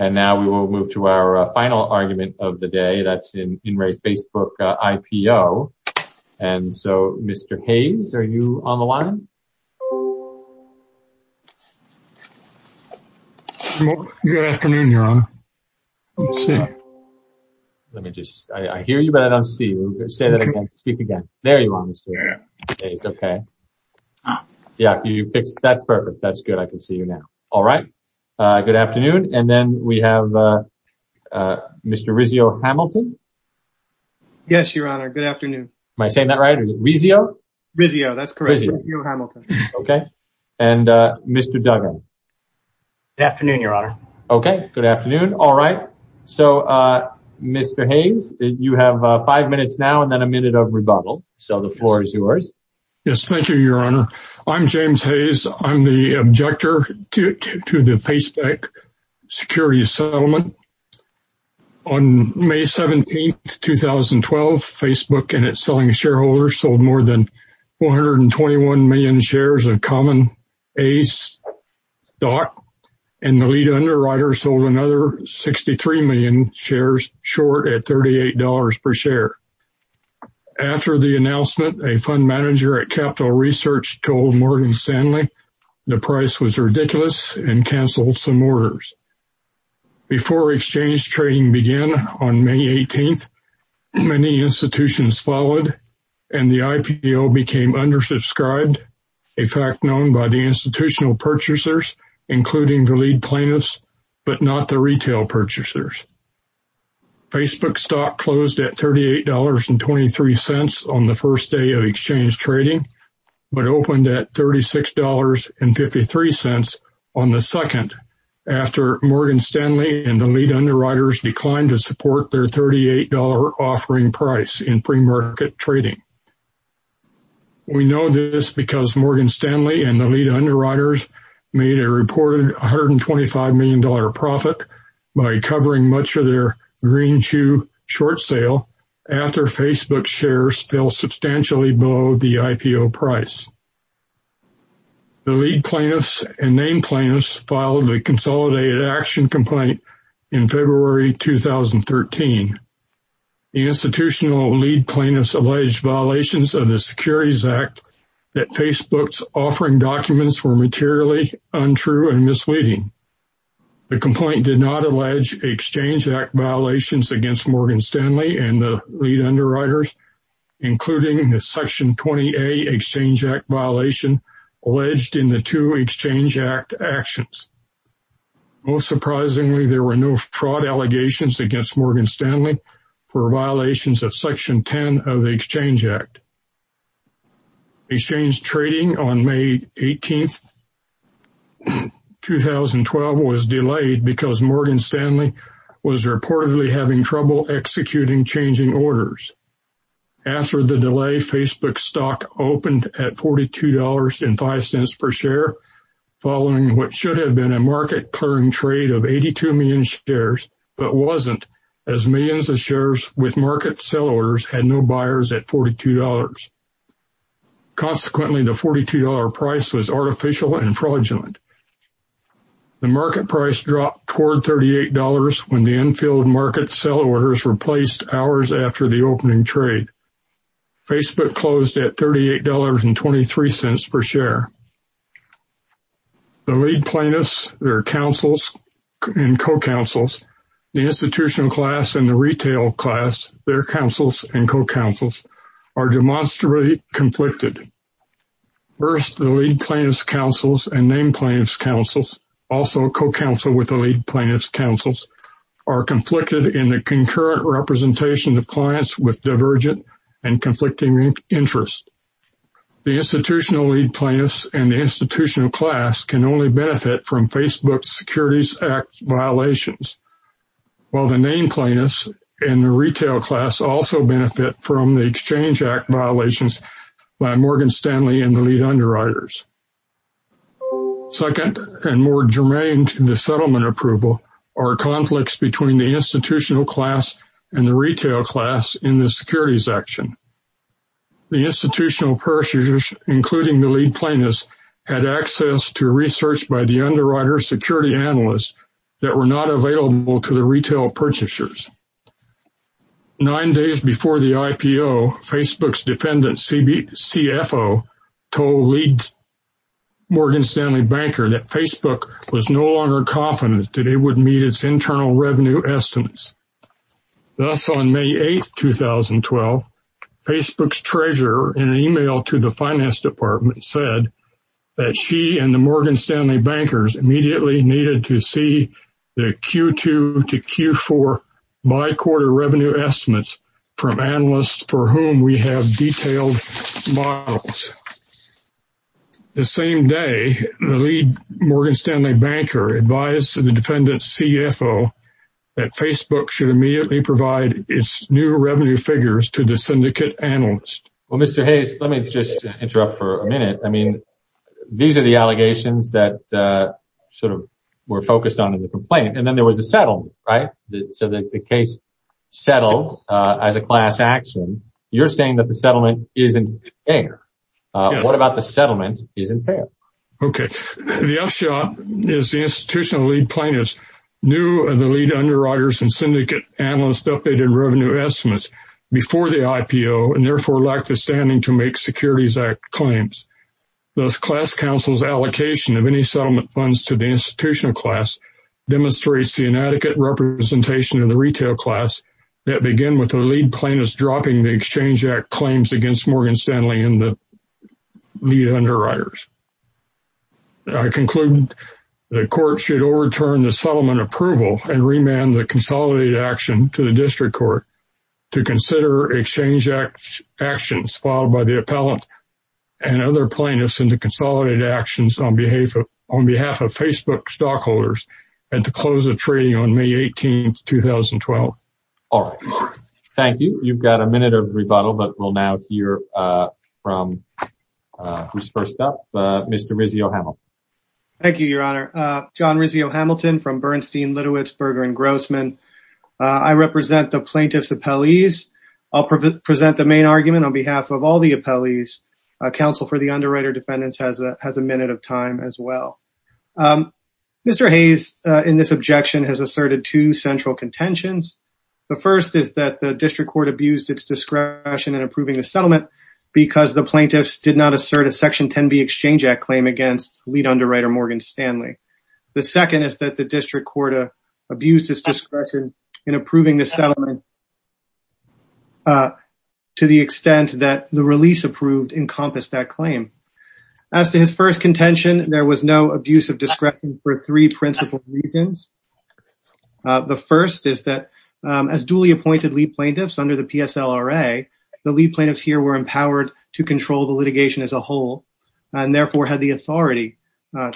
And now we will move to our final argument of the day. That's in in re Facebook, IPO, and so, Mr. Hayes, are you on the line? Good afternoon, Your Honor. Let me just, I hear you, but I don't see you. Say that again, speak again. There you are, Mr. Hayes, okay. Yeah, you fixed, that's perfect. That's good, I can see you now. All right, good afternoon. And then we have Mr. Rizzio-Hamilton. Yes, Your Honor, good afternoon. Am I saying that right, Rizzio? Rizzio, that's correct, Rizzio-Hamilton. Okay, and Mr. Duggan. Good afternoon, Your Honor. Okay, good afternoon. All right, so, Mr. Hayes, you have five minutes now and then a minute of rebuttal. So the floor is yours. Yes, thank you, Your Honor. I'm James Hayes. I'm the objector to the Facebook Security Settlement. On May 17th, 2012, Facebook and its selling shareholders sold more than 421 million shares of Common Ace stock, and the lead underwriter sold another 63 million shares, short at $38 per share. After the announcement, a fund manager at Capital Research told Morgan Stanley the price was ridiculous and canceled some orders. Before exchange trading began on May 18th, many institutions followed, and the IPO became undersubscribed, a fact known by the institutional purchasers, including the lead plaintiffs, but not the retail purchasers. Facebook stock closed at $38.23 on the first day of exchange trading, but opened at $36.53 on the second, after Morgan Stanley and the lead underwriters declined to support their $38 offering price in pre-market trading. We know this because Morgan Stanley and the lead underwriters made a reported $125 million profit by covering much of their green shoe short sale after Facebook shares fell substantially below the IPO price. The lead plaintiffs and main plaintiffs filed a consolidated action complaint in February 2013. The institutional lead plaintiffs alleged violations of the Securities Act that Facebook's offering documents were materially untrue and misleading. The complaint did not allege Exchange Act violations against Morgan Stanley and the lead underwriters, including the Section 20A Exchange Act violation alleged in the two Exchange Act actions. Most surprisingly, there were no fraud allegations against Morgan Stanley for violations of Section 10 of the Exchange Act. Exchange trading on May 18, 2012, was delayed because Morgan Stanley was reportedly having trouble executing changing orders. After the delay, Facebook stock opened at $42.05 per share, following what should have been a market-clearing trade of 82 million shares, but wasn't, as millions of shares with market sell orders had no buyers at $42. Consequently, the $42 price was artificial and fraudulent. The market price dropped toward $38 when the infield market sell orders replaced hours after the opening trade. Facebook closed at $38.23 per share. The lead plaintiffs, their counsels, and co-counsels, the institutional class and the retail class, their counsels and co-counsels, are demonstrably conflicted. First, the lead plaintiffs' counsels and named plaintiffs' counsels, also co-counsel with the lead plaintiffs' counsels, are conflicted in the concurrent representation of clients with divergent and conflicting interests. The institutional lead plaintiffs and the institutional class can only benefit from Facebook's Securities Act violations, while the named plaintiffs and the retail class also benefit from the Exchange Act violations by Morgan Stanley and the lead underwriters. Second, and more germane to the settlement approval, are conflicts between the institutional class and the retail class in the securities action. The institutional purchasers, including the lead plaintiffs, had access to research by the underwriter security analysts that were not available to the retail purchasers. Nine days before the IPO, Facebook's defendant, CFO, told lead Morgan Stanley banker that Facebook was no longer confident that it would meet its internal revenue estimates. Thus, on May 8, 2012, Facebook's treasurer, in an email to the finance department, said that she and the Morgan Stanley bankers immediately needed to see the Q2 to Q4 by-quarter revenue estimates from analysts for whom we have detailed models. The same day, the lead Morgan Stanley banker advised the defendant, CFO, that Facebook should immediately provide its new revenue figures to the syndicate analysts. Well, Mr. Hayes, let me just interrupt for a minute. I mean, these are the allegations that sort of were focused on in the complaint, and then there was a settlement, right? So the case settled as a class action. You're saying that the settlement isn't fair. What about the settlement isn't fair? Okay. The upshot is the institutional lead plaintiffs knew of the lead underwriters and syndicate analysts' updated revenue estimates before the IPO, and therefore, lack the standing to make Securities Act claims. Thus, class counsel's allocation of any settlement funds to the institutional class demonstrates the inadequate representation of the retail class that began with the lead plaintiffs dropping the Exchange Act claims against Morgan Stanley and the underwriters. I conclude the court should overturn the settlement approval and remand the consolidated action to the district court to consider Exchange Act actions filed by the appellant and other plaintiffs in the consolidated actions on behalf of Facebook stockholders and to close the treaty on May 18, 2012. All right. Thank you. You've got a minute of rebuttal, but we'll now hear from who's first up, Mr. Rizzio-Hamilton. Thank you, Your Honor. John Rizzio-Hamilton from Bernstein, Litowitz, Berger & Grossman. I represent the plaintiffs' appellees. I'll present the main argument on behalf of all the appellees. Counsel for the underwriter defendants has a minute of time as well. Mr. Hayes, in this objection, has asserted two central contentions. The first is that the district court abused its discretion in approving the settlement because the plaintiffs did not assert a Section 10b Exchange Act claim against lead underwriter Morgan Stanley. The second is that the district court abused its discretion in approving the settlement to the extent that the release approved encompassed that claim. As to his first contention, there was no abuse of authority. The lead plaintiffs here were empowered to control the litigation as a whole and therefore had the authority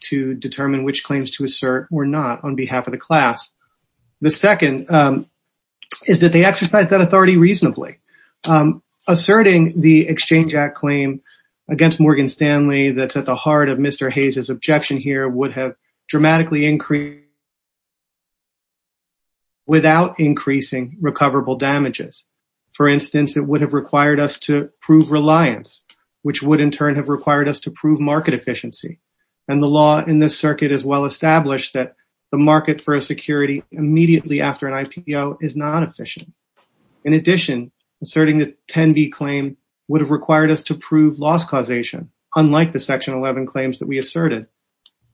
to determine which claims to assert or not on behalf of the class. The second is that they exercised that authority reasonably. Asserting the Exchange Act claim against Morgan Stanley that's at the heart of Mr. Hayes' objection here would have for instance, it would have required us to prove reliance which would in turn have required us to prove market efficiency and the law in this circuit is well established that the market for a security immediately after an IPO is not efficient. In addition, asserting the 10b claim would have required us to prove loss causation unlike the Section 11 claims that we asserted.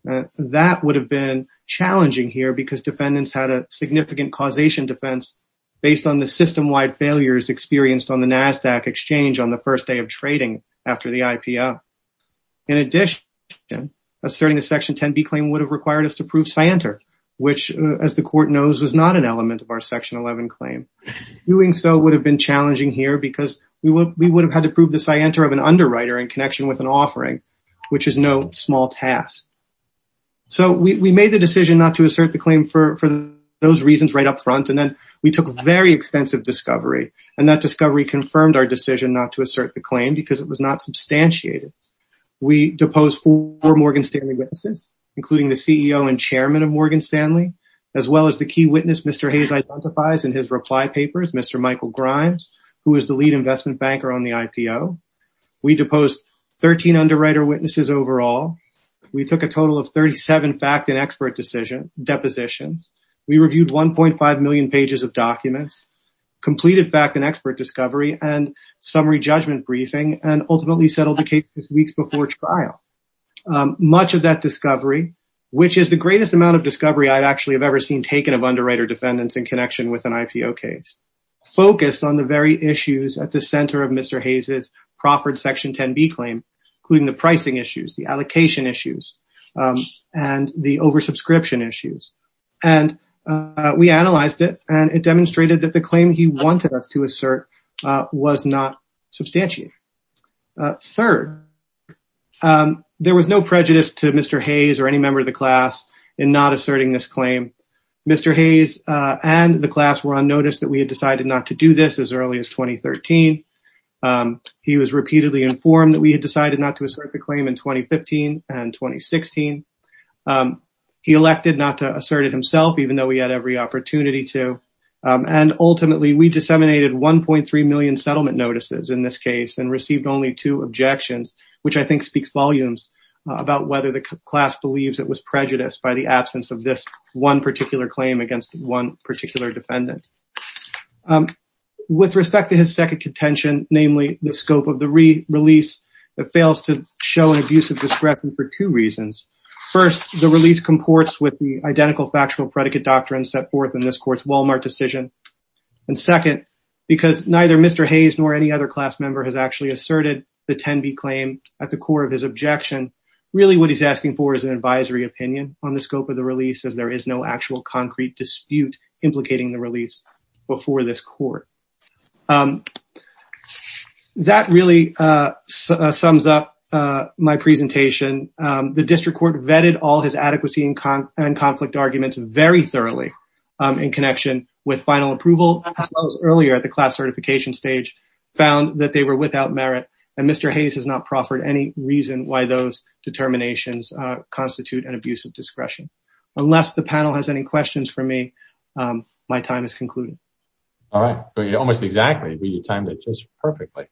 That would have been challenging here because defendants had a significant causation defense based on the system-wide failures experienced on the NASDAQ exchange on the first day of trading after the IPO. In addition, asserting the Section 10b claim would have required us to prove scienter which as the court knows is not an element of our Section 11 claim. Doing so would have been challenging here because we would have had to prove the scienter of an underwriter in connection with an offering which is no small task. So we made the decision not to assert the claim for those reasons right up front and then we took very extensive discovery and that discovery confirmed our decision not to assert the claim because it was not substantiated. We deposed four Morgan Stanley witnesses including the CEO and chairman of Morgan Stanley as well as the key witness Mr. Hayes identifies in his reply papers, Mr. Michael Grimes who is the lead investment banker on the IPO. We deposed 13 underwriter witnesses overall. We took a total of 37 fact and expert decision depositions. We reviewed 1.5 million pages of documents, completed fact and expert discovery, and summary judgment briefing and ultimately settled the case weeks before trial. Much of that discovery which is the greatest amount of discovery I actually have ever seen taken of underwriter defendants in connection with an IPO case focused on the very issues at the center of Mr. Hayes's proffered Section 10b claim including the pricing issues, the allocation issues, and the oversubscription issues. We analyzed it and it demonstrated that the claim he wanted us to assert was not substantiated. Third, there was no prejudice to Mr. Hayes or any member of the class in not asserting this claim. Mr. Hayes and the class were on notice that we had decided not to do this as early as 2013. He was repeatedly informed that we had decided not to do this as early as 2010-2016. He elected not to assert it himself even though he had every opportunity to and ultimately we disseminated 1.3 million settlement notices in this case and received only two objections which I think speaks volumes about whether the class believes it was prejudiced by the absence of this one particular claim against one particular defendant. With respect to his second contention, namely the scope of the re-release that fails to show an abuse of discretion for two reasons. First, the release comports with the identical factual predicate doctrine set forth in this court's Walmart decision and second, because neither Mr. Hayes nor any other class member has actually asserted the 10b claim at the core of his objection, really what he's asking for is an advisory opinion on the scope of the release as there is no actual concrete dispute implicating the release before this court. That really sums up my presentation. The district court vetted all his adequacy and conflict arguments very thoroughly in connection with final approval as well as earlier at the class certification stage found that they were without merit and Mr. Hayes has not proffered any reason why those for me. My time is concluded. All right. Almost exactly. We timed it just perfectly.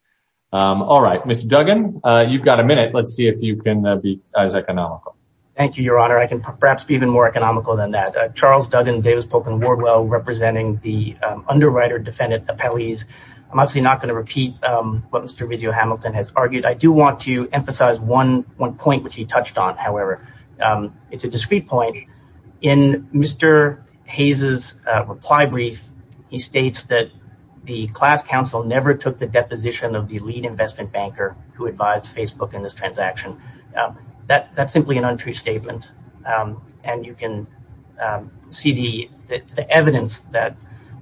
All right. Mr. Duggan, you've got a minute. Let's see if you can be as economical. Thank you, your honor. I can perhaps be even more economical than that. Charles Duggan, Davis Polk, and Wardwell representing the underwriter defendant appellees. I'm obviously not going to repeat what Mr. Vizio-Hamilton has argued. I do want to emphasize one point which he touched on, however. It's a discrete point. In Mr. Hayes' reply brief, he states that the class council never took the deposition of the lead investment banker who advised Facebook in this transaction. That's simply an untrue statement and you can see the evidence that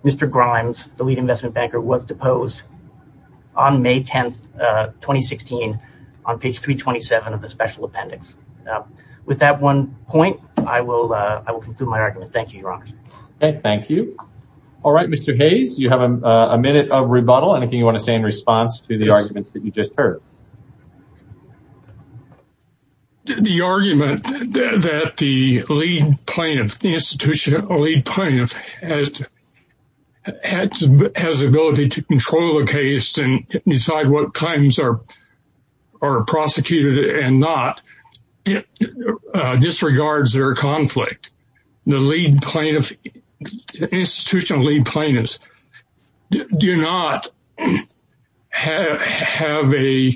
Mr. Grimes, the lead investment banker, was deposed on May 10, 2016 on page 327 of the special appendix. With that one point, I will conclude my argument. Thank you, your honor. Okay. Thank you. All right. Mr. Hayes, you have a minute of rebuttal. Anything you want to say in response to the arguments that you just heard? The argument that the lead plaintiff, the institutional lead plaintiff, has the ability to control the case and decide what claims are prosecuted and not disregards their conflict. The lead plaintiff, the institutional lead plaintiffs do not have an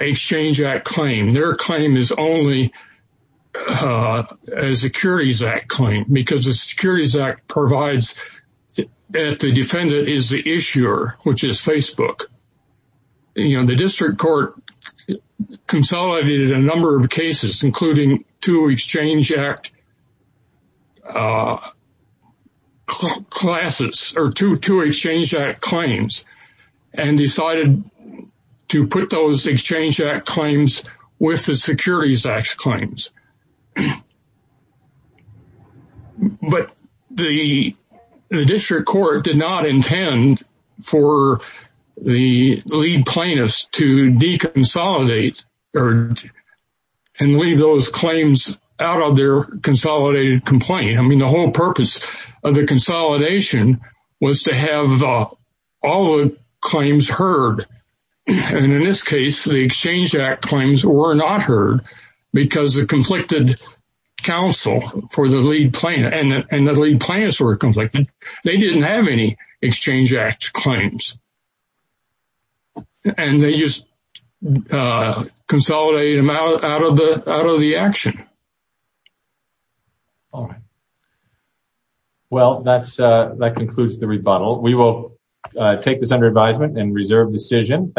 Exchange Act claim. Their claim is only a Securities Act claim because the Securities Act provides that the defendant is the issuer, which is Facebook. The district court consolidated a number of cases, including two Exchange Act classes, or two Exchange Act claims, and decided to put those Exchange Act claims with the Securities Act claims. But the district court did not intend for the lead plaintiffs to deconsolidate and leave those claims out of their consolidated complaint. I mean, the whole purpose of the consolidation was to have all the claims heard. And in this case, the Exchange Act claims were not heard because the conflicted counsel for the lead plaintiff and the lead plaintiffs didn't have any Exchange Act claims. And they just consolidated them out of the action. Well, that concludes the rebuttal. We will take this under advisement and reserve decision.